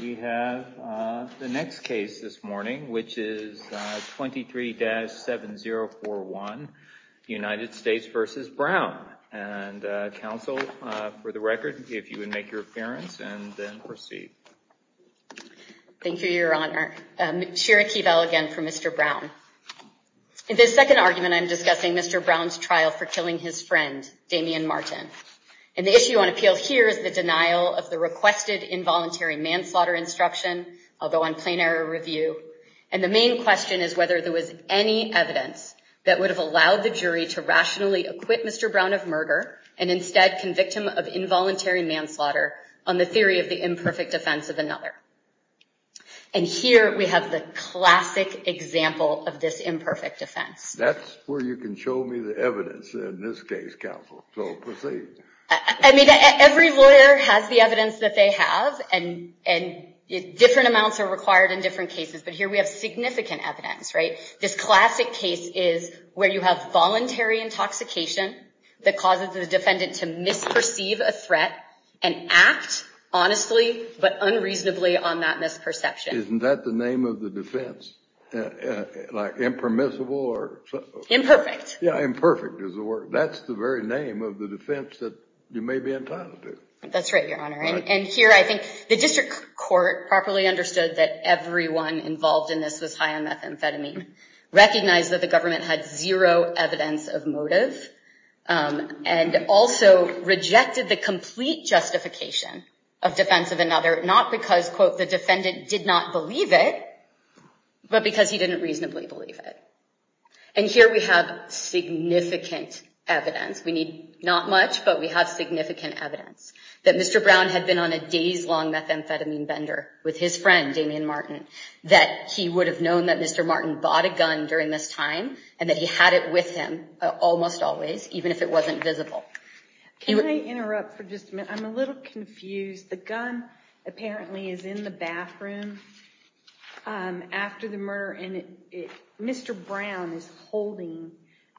We have the next case this morning, which is 23-7041, United States v. Brown. And counsel, for the record, if you would make your appearance and then proceed. Thank you, Your Honor. Shira Keevel again for Mr. Brown. In this second argument, I'm discussing Mr. Brown's trial for killing his friend, Damian Martin. The issue on appeal here is the denial of the requested involuntary manslaughter instruction, although on plain error review. And the main question is whether there was any evidence that would have allowed the jury to rationally acquit Mr. Brown of murder and instead convict him of involuntary manslaughter on the theory of the imperfect defense of another. And here we have the classic example of this imperfect defense. That's where you can show me the evidence in this case, counsel. So proceed. I mean, every lawyer has the evidence that they have, and different amounts are required in different cases. But here we have significant evidence, right? This classic case is where you have voluntary intoxication that causes the defendant to misperceive a threat and act honestly but unreasonably on that misperception. Isn't that the name of the defense? Like impermissible or something? Imperfect. Yeah, imperfect is the word. That's the very name of the defense that you may be entitled to. That's right, Your Honor. And here I think the district court properly understood that everyone involved in this was high on methamphetamine, recognized that the government had zero evidence of motive, and also rejected the complete justification of defense of another, not because, quote, the defendant did not believe it, but because he didn't reasonably believe it. And here we have significant evidence. We need not much, but we have significant evidence. That Mr. Brown had been on a days-long methamphetamine bender with his friend, Damian Martin. That he would have known that Mr. Martin bought a gun during this time, and that he had it with him almost always, even if it wasn't visible. Can I interrupt for just a minute? I'm a little confused. The gun apparently is in the bathroom after the murder, and Mr. Brown is holding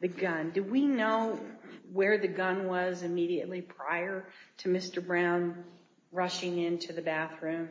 the gun. Do we know where the gun was immediately prior to Mr. Brown rushing into the bathroom?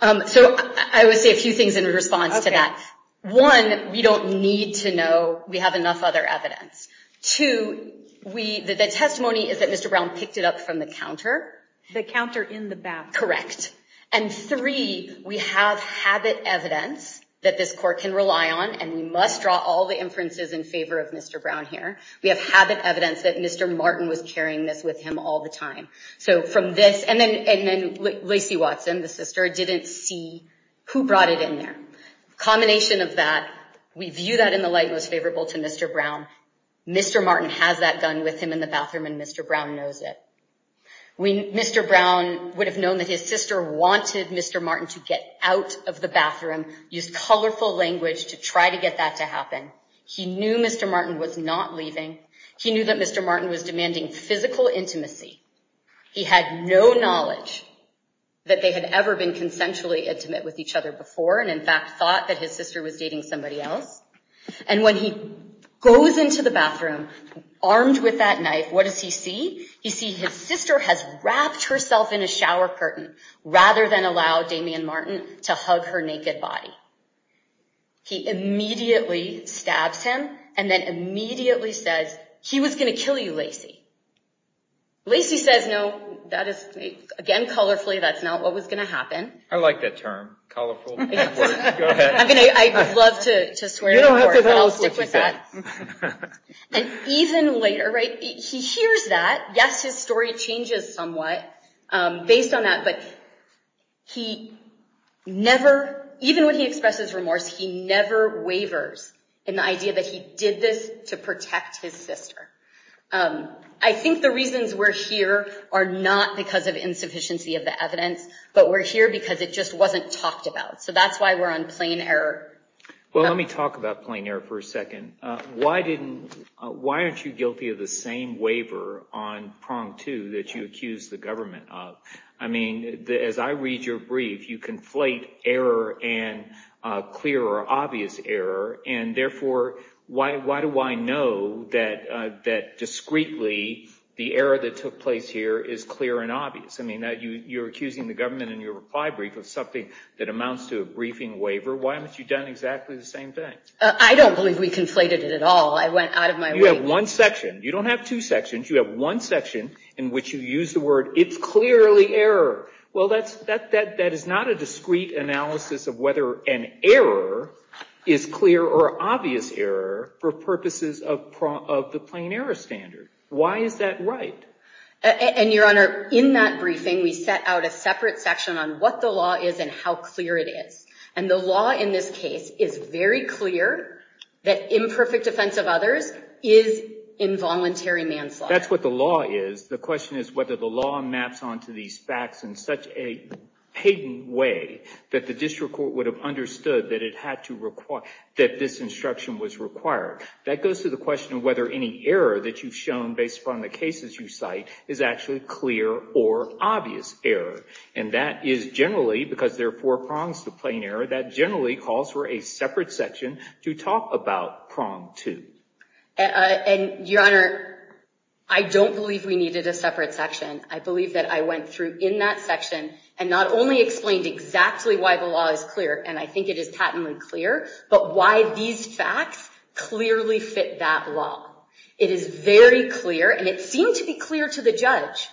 So I would say a few things in response to that. One, we don't need to know we have enough other evidence. Two, the testimony is that Mr. Brown picked it up from the counter. The counter in the bathroom. Correct. And three, we have habit evidence that this court can rely on, and we must draw all the inferences in favor of Mr. Brown here. We have habit evidence that Mr. Martin was carrying this with him all the time. So from this, and then Lacey Watson, the sister, didn't see who brought it in there. Combination of that, we view that in the light most favorable to Mr. Brown. Mr. Martin has that gun with him in the bathroom, and Mr. Brown knows it. Mr. Brown would have known that his sister wanted Mr. Martin to get out of the bathroom, used colorful language to try to get that to happen. He knew Mr. Martin was not leaving. He knew that Mr. Martin was demanding physical intimacy. He had no knowledge that they had ever consensually intimate with each other before, and in fact thought that his sister was dating somebody else. And when he goes into the bathroom armed with that knife, what does he see? He sees his sister has wrapped herself in a shower curtain rather than allow Damian Martin to hug her naked body. He immediately stabs him and then immediately says, he was going to kill you, Lacey. Lacey says, no, that is, again, colorfully, that's not what was going to happen. I like that term, colorful language. Go ahead. I mean, I would love to swear to the Lord, but I'll stick with that. And even later, right, he hears that. Yes, his story changes somewhat based on that, but he never, even when he expresses remorse, he never wavers in the idea that he did this to protect his sister. I think the reasons we're here are not because of insufficiency of the evidence, but we're here because it just wasn't talked about. So that's why we're on plain error. Well, let me talk about plain error for a second. Why didn't, why aren't you guilty of the same waiver on prong two that you accused the government of? I mean, as I read your brief, you conflate error and clear or obvious error. And therefore, why do I know that discreetly the error that took place here is clear and obvious? I mean, you're accusing the government in your reply brief of something that amounts to a briefing waiver. Why haven't you done exactly the same thing? I don't believe we conflated it at all. I went out of my way. You have one section. You don't have two sections. You have one section in which you use the word, it's clearly error. Well, that is not a discreet analysis of whether an error is clear or obvious error for purposes of the plain error standard. Why is that right? And your honor, in that briefing, we set out a separate section on what the law is and how clear it is. And the law in this case is very clear that imperfect defense of others is involuntary manslaughter. That's what the law is. The question is whether the law maps onto these facts in such a patent way that the district court would have understood that it had to require, that this instruction was required. That goes to the question of whether any error that you've shown based upon the cases you cite is actually clear or obvious error. And that is generally, because there are four prongs to plain error, that generally calls for a separate section to talk about prong two. And your honor, I don't believe we needed a separate section. I believe that I went through in that section and not only explained exactly why the law is clear, and I think it is patently clear, but why these facts clearly fit that law. It is very clear, and it seemed to be clear to the judge,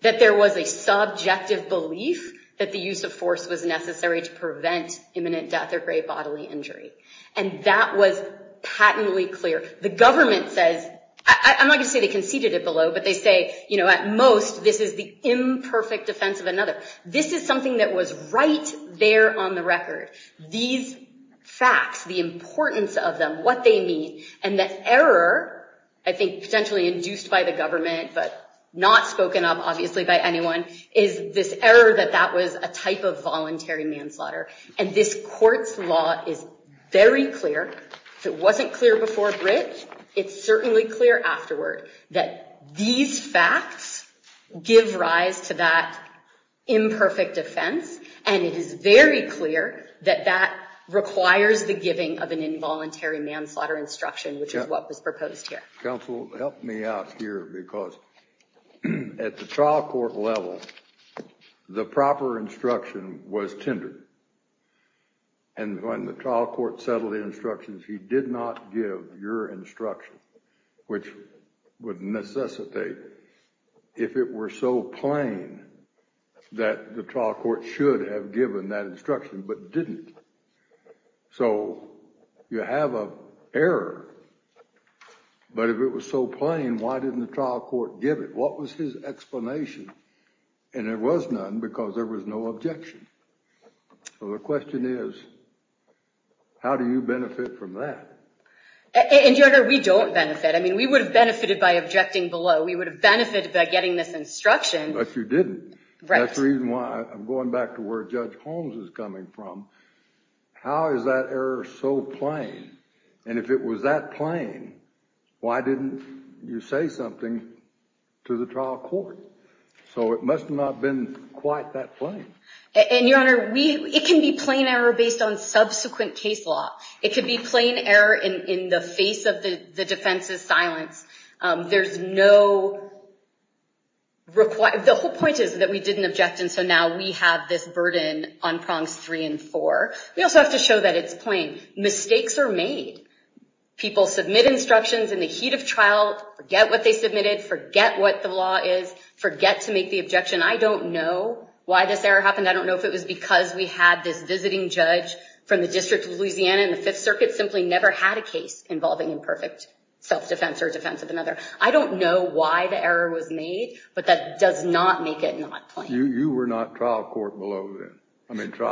that there was a subjective belief that the use of force was necessary to prevent imminent death or grave bodily injury. And that was patently clear. The government says, I'm not going to say they conceded it below, but they say, at most, this is the imperfect defense of another. This is something that was right there on the record. These facts, the importance of them, what they mean, and that error, I think potentially induced by the government, but not spoken of, obviously, by anyone, is this error that that was a type of voluntary manslaughter. And this court's law is very clear. If it wasn't clear before Britt, it's certainly clear afterward that these facts give rise to that imperfect defense, and it is very clear that that requires the giving of an involuntary manslaughter instruction, which is what was proposed here. Counsel, help me out here, because at the trial court level, the proper instruction was tendered. And when the trial court settled the instructions, he did not give your instruction, which would necessitate if it were so plain that the trial court should have given that instruction, but didn't. So you have a error. But if it was so plain, why didn't the trial court give it? What was his explanation? And it was none, because there was no objection. So the question is, how do you benefit from that? And, Your Honor, we don't benefit. I mean, we would have benefited by objecting below. We would have benefited by getting this instruction. But you didn't. That's the reason why I'm going back to where Judge Holmes is coming from. How is that error so plain? And if it was that plain, why didn't you say something to the trial court? So it must have not been quite that plain. And, Your Honor, it can be plain error based on subsequent case law. It could be plain error in the face of the defense's silence. There's no requirement. The whole point is that we didn't object, and so now we have this burden on prongs three and four. We also have to show that it's plain. Mistakes are made. People submit instructions in the heat of trial, forget what they submitted, forget what the law is, forget to make the objection. I don't know why this error happened. I don't know if it was because we had this visiting judge from the District of Louisiana in the Fifth Circuit simply never had a case involving imperfect self-defense or defense of another. I don't know why the error was made, but that does not make it not plain. You were not trial court below then. I mean, that's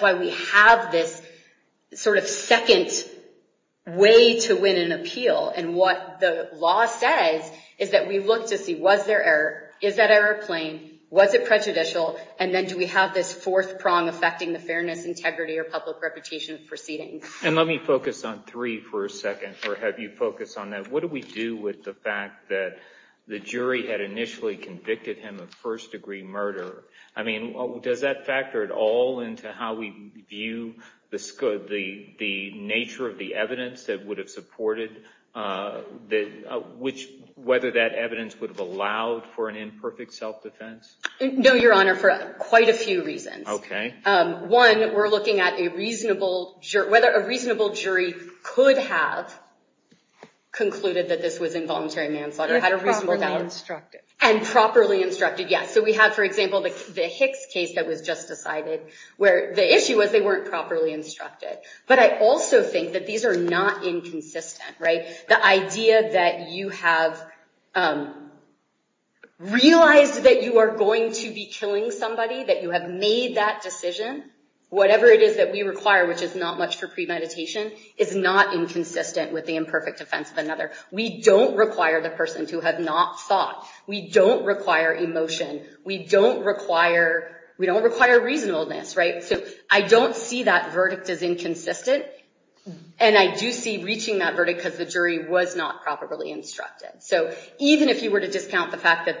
why we have this sort of second way to win an appeal. And what the law says is that we look to see, was there error? Is that error plain? Was it prejudicial? And then do we have this fourth prong affecting the fairness, integrity, or public reputation of proceedings? And let me focus on three for a second, or have you focused on that. What do we do with the fact that the jury had initially convicted him of first degree murder? I mean, does that factor at all into how we view the nature of the evidence that would have supported whether that evidence would have allowed for an imperfect self-defense? No, Your Honor, for quite a few reasons. Okay. One, we're looking at whether a reasonable jury could have concluded that this was involuntary manslaughter. And properly instructed. And properly instructed, yes. So we have, for example, the Hicks case that was just decided, where the issue was they weren't properly instructed. But I also think that these are not inconsistent, right? The idea that you have realized that you are going to be killing somebody, that you have made that decision, whatever it is that we require, which is not much for premeditation, is not inconsistent with the defense of another. We don't require the person to have not thought. We don't require emotion. We don't require reasonableness, right? So I don't see that verdict as inconsistent. And I do see reaching that verdict because the jury was not properly instructed. So even if you were to discount the fact that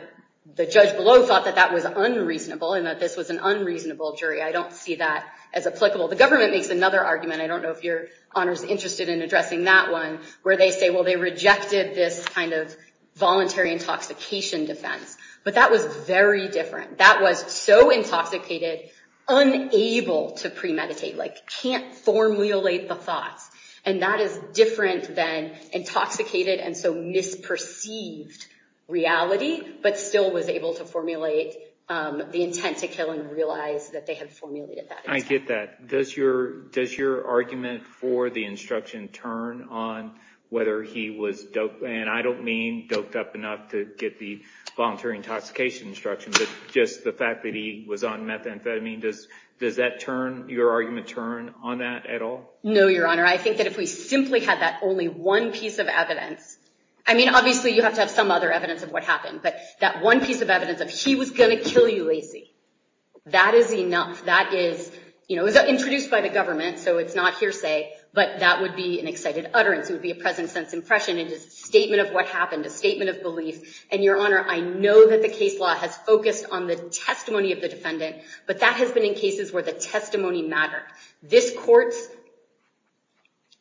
the judge below thought that that was unreasonable, and that this was an unreasonable jury, I don't see that as applicable. The government makes another argument, I don't know if your honor is interested in addressing that one, where they say, well, they rejected this kind of voluntary intoxication defense. But that was very different. That was so intoxicated, unable to premeditate, like can't formulate the thoughts. And that is different than intoxicated and so misperceived reality, but still was able to formulate the intent to kill and realize that they had formulated that. I get that. Does your argument for the instruction turn on whether he was, and I don't mean doped up enough to get the voluntary intoxication instruction, but just the fact that he was on methamphetamine, does that turn, your argument turn on that at all? No, your honor. I think that if we simply had that only one piece of evidence, I mean, obviously you have to have some other evidence of what happened, but that one piece of evidence of he was going to kill you, Lacey, that is enough. That is introduced by the government, so it's not hearsay, but that would be an excited utterance. It would be a present sense impression. It is a statement of what happened, a statement of belief. And your honor, I know that the case law has focused on the testimony of the defendant, but that has been in cases where the testimony mattered. This court's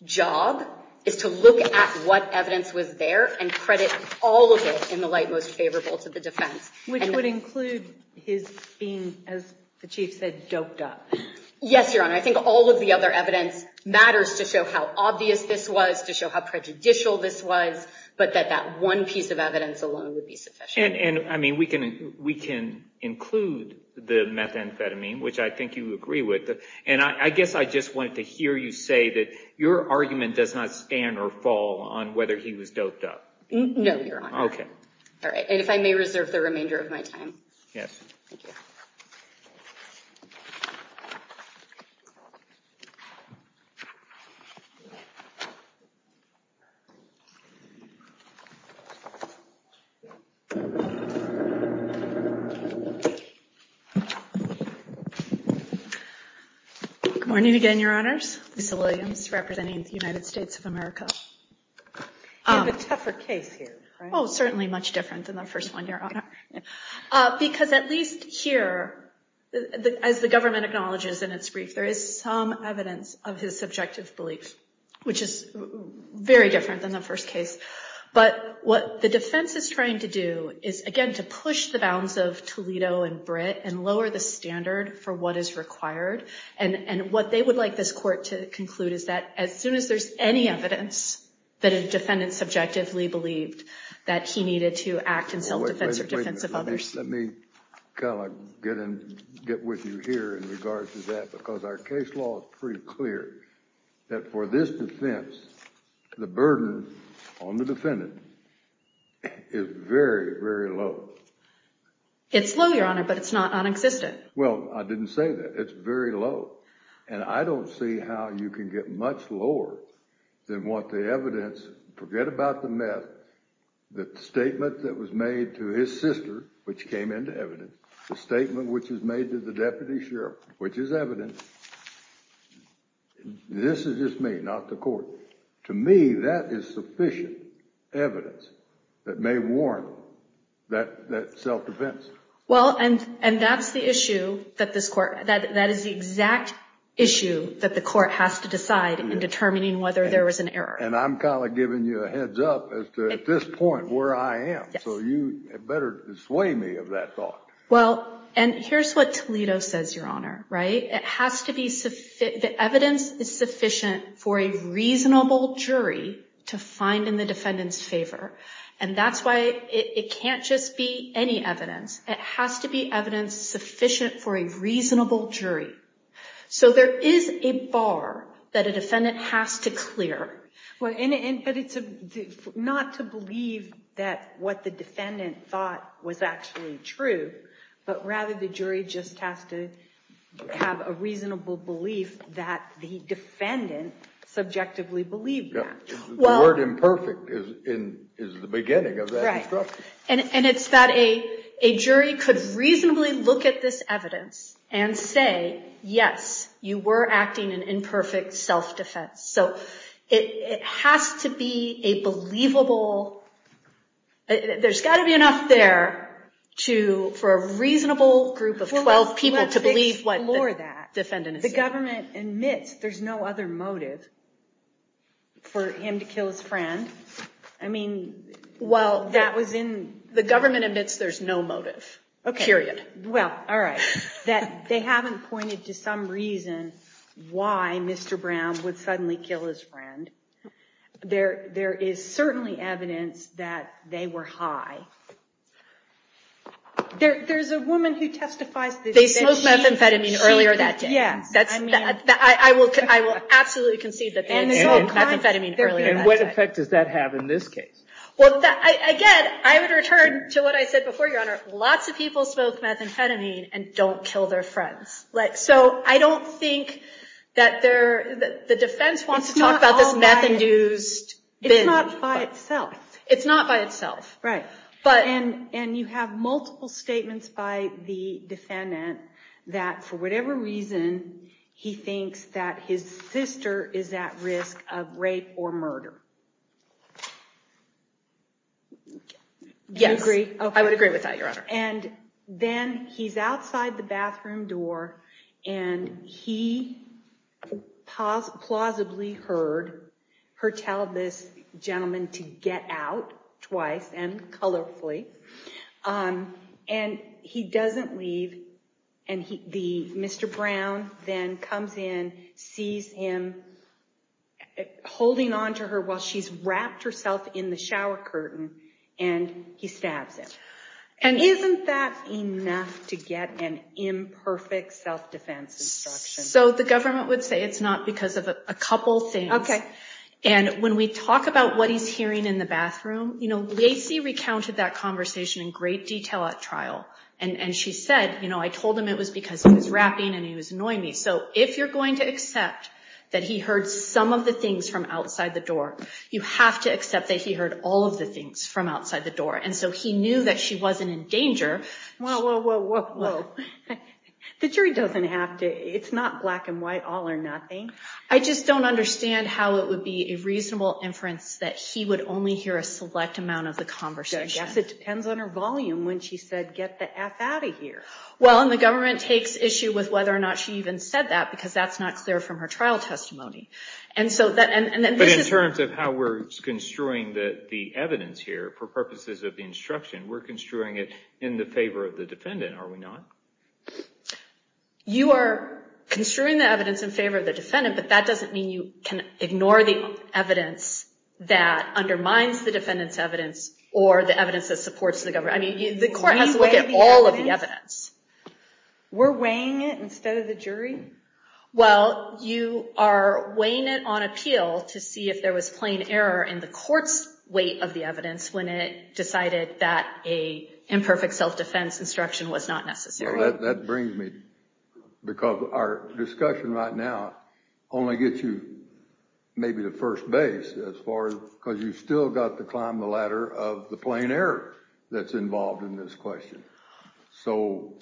job is to look at what evidence was there and credit all of it in the most favorable to the defense. Which would include his being, as the chief said, doped up. Yes, your honor. I think all of the other evidence matters to show how obvious this was, to show how prejudicial this was, but that that one piece of evidence alone would be sufficient. And I mean, we can include the methamphetamine, which I think you agree with, and I guess I just wanted to hear you say that your argument does not stand or fall on whether he was doped up. No, your honor. Okay. All right. And if I may reserve the remainder of my time. Yes. Thank you. Good morning again, your honors. Lisa Williams, representing the United States of America. You have a tougher case here, right? Oh, certainly much different than the first one, your honor. Because at least here, as the government acknowledges in its brief, there is some evidence of his subjective belief, which is very different than the first case. But what the defense is trying to do is, again, to push the bounds of Toledo and Britt and lower the standard for what is required. And what they would like this court to conclude is that as soon as there's any evidence that a defendant subjectively believed that he needed to act in self-defense or defense of others. Let me kind of get in, get with you here in regards to that, because our case law is pretty clear that for this defense, the burden on the defendant is very, very low. It's low, your honor, but it's not non-existent. Well, I didn't say that. It's very low. And I don't see how you can get much lower than what the evidence, forget about the meth, the statement that was made to his sister, which came into evidence, the statement which was made to the deputy sheriff, which is evidence. This is just me, not the court. To me, that is sufficient evidence that may warrant that self-defense. Well, and that's the issue that that is the exact issue that the court has to decide in determining whether there was an error. And I'm kind of giving you a heads up as to at this point where I am. So you better dissuade me of that thought. Well, and here's what Toledo says, your honor, right? It has to be the evidence is sufficient for a reasonable jury to find in the defendant's favor. And that's why it can't just be any evidence. It has to be evidence sufficient for a reasonable jury. So there is a bar that a defendant has to clear. Well, and it's not to believe that what the defendant thought was actually true, but rather the jury just has to have a reasonable belief that the defendant subjectively believed that. The word imperfect is the beginning of that. And it's that a jury could reasonably look at this evidence and say, yes, you were acting in imperfect self-defense. So it has to be a believable, there's got to be enough there to for a reasonable group of 12 people to believe what the defendant is saying. The government admits there's no other motive for him to kill his friend. I mean, well, that was in... The government admits there's no motive, period. Well, all right. That they haven't pointed to some reason why Mr. Brown would suddenly kill his friend. There is certainly evidence that they were high. There's a woman who testifies... They smoked methamphetamine earlier that day. Yes. I will absolutely concede that they had smoked methamphetamine earlier that day. And what effect does that have in this case? Well, again, I would return to what I said before, Your Honor. Lots of people smoke methamphetamine and don't kill their friends. So I don't think that the defense wants to talk about this meth-induced... It's not by itself. It's not by itself. Right. And you have multiple statements by the defendant that, for whatever reason, he thinks that his sister is at risk of rape or murder. Yes. Do you agree? I would agree with that, Your Honor. And then he's outside the bathroom door, and he plausibly heard her tell this gentleman to get out twice, and colorfully. And he doesn't leave, and Mr. Brown then comes in, sees him holding onto her while she's wrapped herself in the shower curtain, and he stabs him. And isn't that enough to get an imperfect self-defense instruction? So the government would say it's not because of a couple things. And when we talk about what he's hearing in the bathroom, Lacy recounted that conversation in great detail at trial. And she said, I told him it was because he was wrapping and he was annoying me. So if you're going to accept that he heard some of the things from outside the door, you have to accept that he heard all of the things from outside the door. And so he knew that she wasn't in danger. Whoa, whoa, whoa, whoa. The jury doesn't have to. It's not black and white, all or nothing. I just don't understand how it would be a reasonable inference that he would only hear a select amount of the conversation. I guess it depends on her volume when she said, get the F out of here. Well, and the government takes issue with whether or not she even said that, because that's not clear from her trial testimony. But in terms of how we're construing the evidence here for purposes of the instruction, we're construing it in the favor of the defendant, are we not? You are construing the evidence in favor of the defendant, but that doesn't mean you can ignore the evidence that undermines the defendant's evidence or the evidence that supports the government. I mean, the court has to look at all of the evidence. We're weighing it instead of the jury? Well, you are weighing it on appeal to see if there was plain error in the court's weight of the evidence when it decided that a imperfect self-defense instruction was not necessary. Well, that brings me, because our discussion right now only gets you maybe the first base, because you've still got to climb the ladder of the plain error that's involved in this question. So...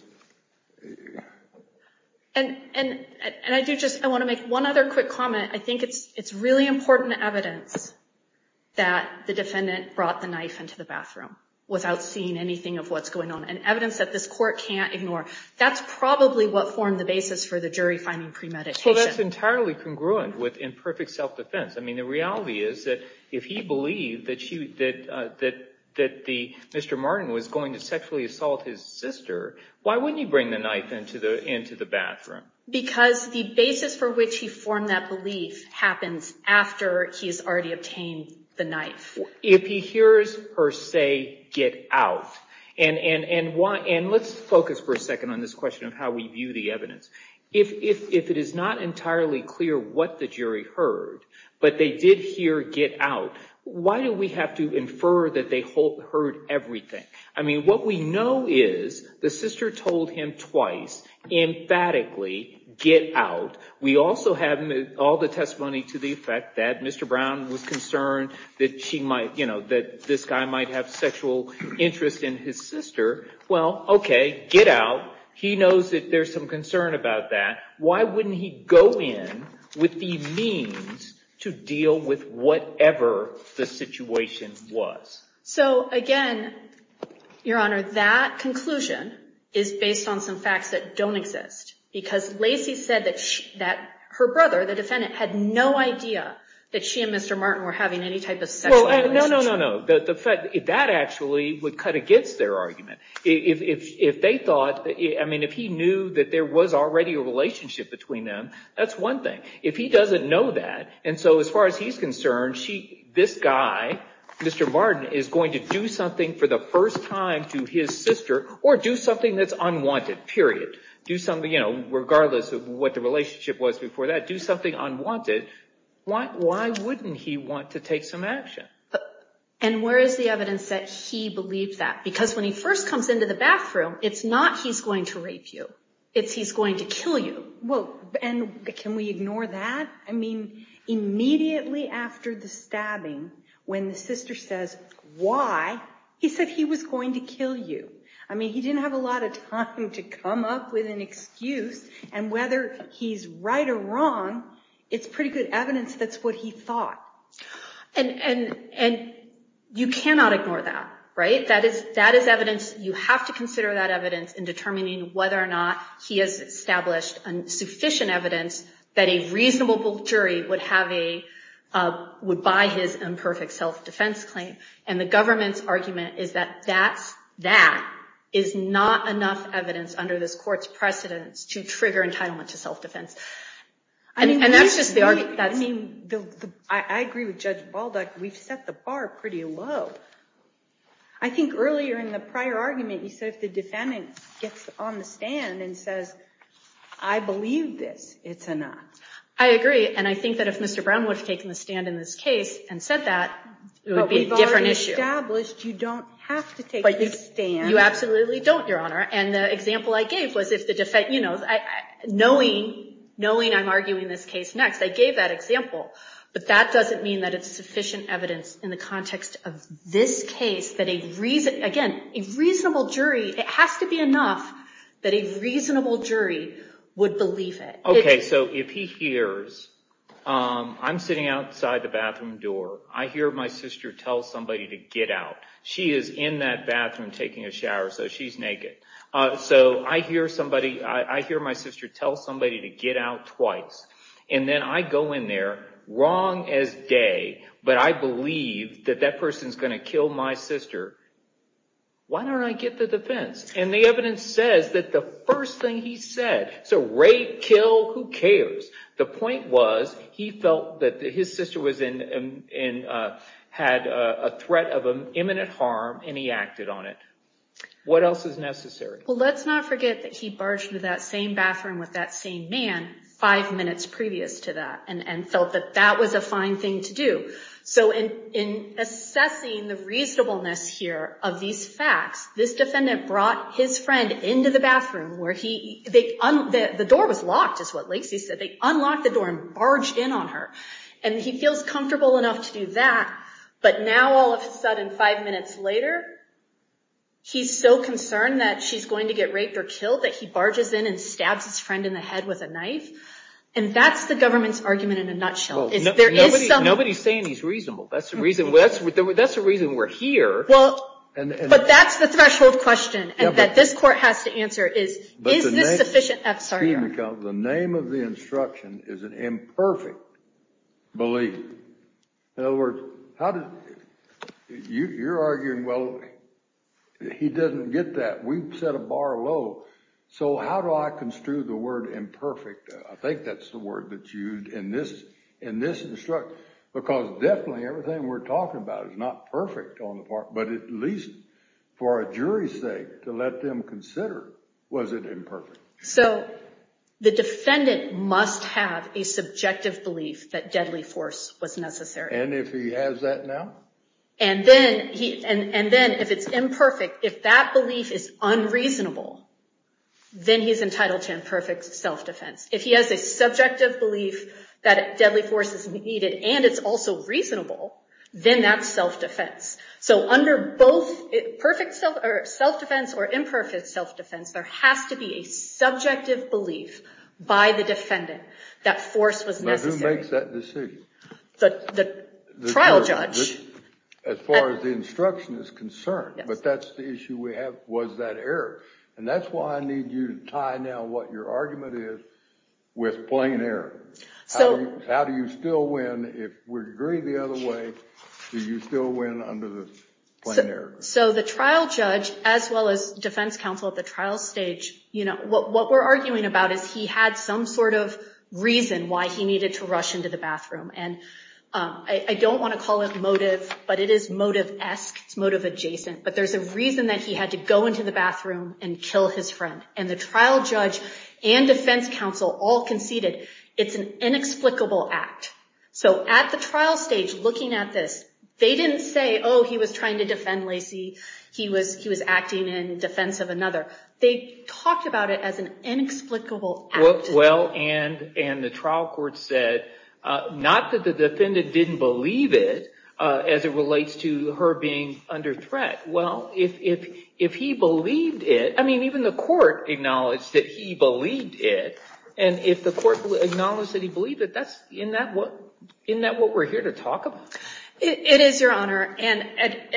And I do just want to make one other quick comment. I think it's really important evidence that the defendant brought the knife into the bathroom without seeing anything of what's going on, and evidence that this court can't ignore. That's probably what formed the basis for the jury finding premeditation. Well, that's entirely congruent with imperfect self-defense. I mean, the reality is that if he believed that Mr. Martin was going to sexually assault his sister, why wouldn't he bring the knife into the bathroom? Because the basis for which he formed that belief happens after he's already obtained the knife. If he hears her say, get out, and let's focus for a second on this question of how we view the evidence. If it is not entirely clear what the jury heard, but they did hear get out, why do we have to infer that they heard everything? I mean, what we know is the sister told him twice, emphatically, get out. We also have all the testimony to the effect that Mr. Brown was concerned that she might, you know, that this guy might have sexual interest in his sister. Well, okay, get out. He knows that there's some concern about that. Why wouldn't he go in with the means to deal with whatever the situation was? So again, Your Honor, that conclusion is based on some facts that don't exist. Because Lacey said that her brother, the defendant, had no idea that she and Mr. Martin were having any type of sexual No, no, no, no. That actually would cut against their argument. If they thought, I mean, if he knew that there was already a relationship between them, that's one thing. If he doesn't know that, and so as far as he's concerned, this guy, Mr. Martin, is going to do something for the first time to his sister, or do something that's unwanted, period. Do something, you know, regardless of what the relationship was before that, do something unwanted. Why wouldn't he want to take some action? And where is the evidence that he believed that? Because when he first comes into the bathroom, it's not he's going to rape you. It's he's going to kill you. Well, and can we ignore that? I mean, immediately after the stabbing, when the sister says, why? He said he was going to kill you. I mean, he didn't have a lot of time to come up with an excuse, and whether he's right or wrong, it's pretty good evidence that's what he thought. And you cannot ignore that, right? That is evidence. You have to consider that evidence in determining whether or not he has established sufficient evidence that a reasonable jury would buy his imperfect self-defense claim. And the government's argument is that that is not enough evidence under this court's precedence to trigger entitlement to self-defense. I agree with Judge Balduck. We've set the bar pretty low. I think earlier in the prior argument, you said if the defendant gets on the stand and says, I believe this, it's enough. I agree. And I think that if Mr. Brown would have taken the stand in this case and said that, it would be a different issue. But we've already established you don't have to take this stand. You absolutely don't, Your Honor. And the example I gave was, knowing I'm arguing this case next, I gave that example. But that doesn't mean that it's sufficient evidence in the context of this case that a reason, again, a reasonable jury, it has to be enough that a reasonable jury would believe it. OK. So if he hears, I'm sitting outside the bathroom door. I hear my sister tell somebody to get out. She is in that bathroom taking a shower, so she's naked. So I hear somebody, I hear my sister tell somebody to get out twice. And then I go in there, wrong as day, but I believe that that person's going to kill my sister. Why don't I get the defense? And the evidence says that the first thing he said, so rape, kill, who cares? The point was he felt that his sister had a threat of imminent harm, and he acted on it. What else is necessary? Well, let's not forget that he barged into that same bathroom with that same man five minutes previous to that and felt that that was a fine thing to do. So in assessing the reasonableness here of these facts, this defendant brought his friend into the And he feels comfortable enough to do that, but now all of a sudden, five minutes later, he's so concerned that she's going to get raped or killed that he barges in and stabs his friend in the head with a knife. And that's the government's argument in a nutshell. Nobody's saying he's reasonable. That's the reason we're here. Well, but that's the threshold question that this court has to answer is, is this sufficient? But the name of the instruction is an imperfect belief. In other words, you're arguing, well, he doesn't get that. We've set a bar low. So how do I construe the word imperfect? I think that's the word that's used in this instruction, because definitely everything we're talking about is not perfect on the part, but at least for a jury's sake, to let them consider, was it imperfect? So the defendant must have a subjective belief that deadly force was necessary. And if he has that now? And then if it's imperfect, if that belief is unreasonable, then he's entitled to imperfect self-defense. If he has a subjective belief that deadly force is needed and it's also reasonable, then that's self-defense. So under both perfect self-defense or imperfect self-defense, there has to be a subjective belief by the defendant that force was necessary. Who makes that decision? The trial judge. As far as the instruction is concerned, but that's the issue we have, was that error? And that's why I need you to tie now what your argument is with plain error. How do you still win if we agree the other way? Do you still win under the plain error? So the trial judge, as well as defense counsel at the trial stage, what we're arguing about is he had some sort of reason why he needed to rush into the bathroom. And I don't want to call it motive, but it is motive-esque. It's motive adjacent. But there's a reason that he had to go into the bathroom and kill his friend. And the trial judge and defense counsel all conceded it's an inexplicable act. So at the trial stage, looking at this, they didn't say, oh, he was trying to defend Lacey. He was acting in defense of another. They talked about it as an inexplicable act. Well, and the trial court said, not that the defendant didn't believe it, as it relates to her being under threat. Well, if he believed it, I mean, even the court acknowledged that he believed it. And if the court acknowledged that he believed it, isn't that what we're here to talk about? It is, Your Honor. And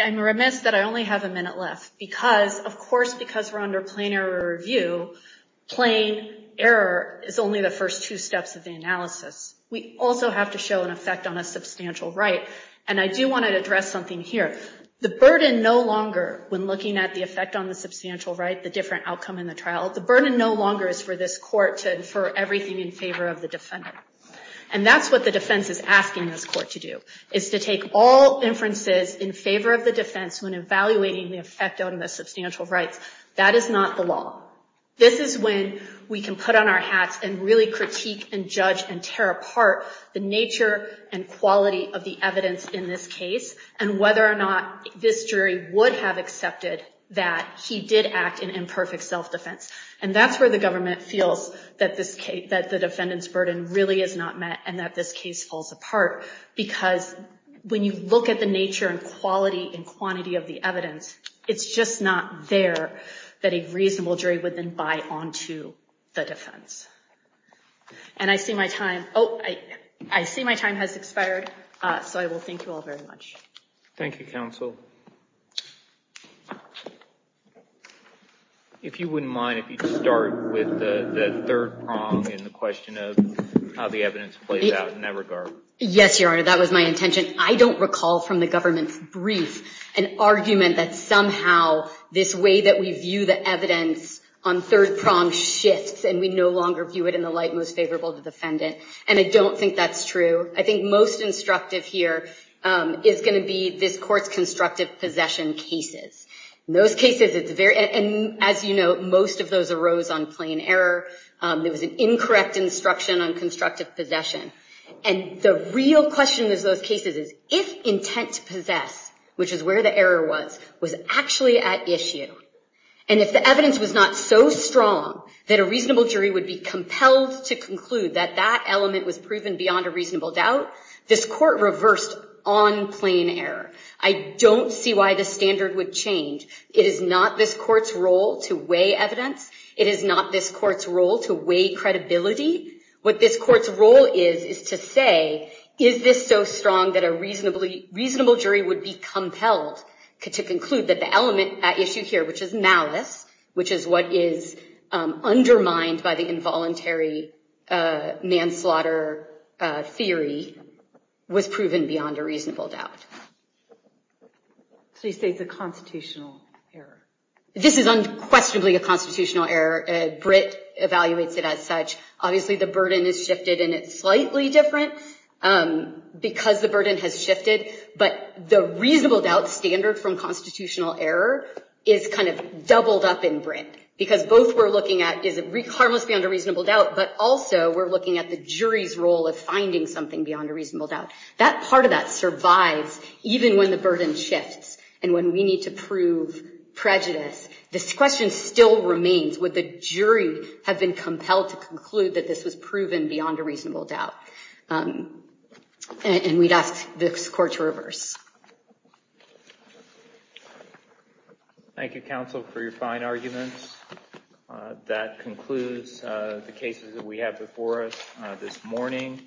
I'm remiss that I only have a minute left because, of course, because we're under plain error review, plain error is only the first two steps of the analysis. We also have to show an effect on a substantial right. And I do want to address something here. The burden no longer, when looking at the effect on the substantial right, the different outcome in the trial, the burden no longer is for this court to infer everything in favor of the defendant. And that's what the defense is asking this court to do, is to take all inferences in favor of the defense when evaluating the effect on the substantial rights. That is not the law. This is when we can put on our hats and really critique and judge and tear apart the nature and quality of the evidence in this case, and whether or not this jury would have accepted that he did act in imperfect self-defense. And that's where the government feels that the defendant's burden really is not met, and that this case falls apart. Because when you look at the nature and quality and quantity of the evidence, it's just not there that a reasonable jury would then buy onto the defense. And I see my time. Oh, I see my time has expired, so I will thank you all very much. Thank you, counsel. If you wouldn't mind if you'd start with the third prong in the question of how the evidence plays out in that regard. Yes, Your Honor, that was my intention. I don't recall from the government's brief an argument that somehow this way that we view the evidence on third prong shifts, and we no longer view it in the light most favorable to the defendant. And I don't think that's true. I think most instructive here is going to be this court's constructive possession cases. And as you know, most of those arose on plain error. There was an incorrect instruction on constructive possession. And the real question in those cases is, if intent to possess, which is where the error was, was actually at issue, and if the evidence was not so strong that a reasonable jury would be compelled to conclude that that element was proven beyond a reasonable doubt, this court reversed on plain error. I don't see why the standard would change. It is not this court's role to weigh evidence. It is not this court's role to weigh credibility. What this court's role is is to say, is this so strong that a reasonable jury would be compelled to conclude that the element at issue here, which is malice, which is what is undermined by the involuntary manslaughter theory, was proven beyond a reasonable doubt. So you say it's a constitutional error? This is unquestionably a constitutional error. Britt evaluates it as such. Obviously, the burden is shifted, and it's slightly different because the burden has shifted. But the reasonable doubt standard from constitutional error is kind of doubled up in Britt, because both we're looking at, is it harmless beyond a reasonable doubt? But also, we're looking at the jury's role of finding something beyond a reasonable doubt. That part of that survives, even when the burden shifts, and when we need to prove prejudice. This question still remains, would the jury have been compelled to conclude that this was proven beyond a reasonable doubt? And we'd ask this court to reverse. Thank you, counsel, for your fine arguments. That concludes the cases that we have before us this morning.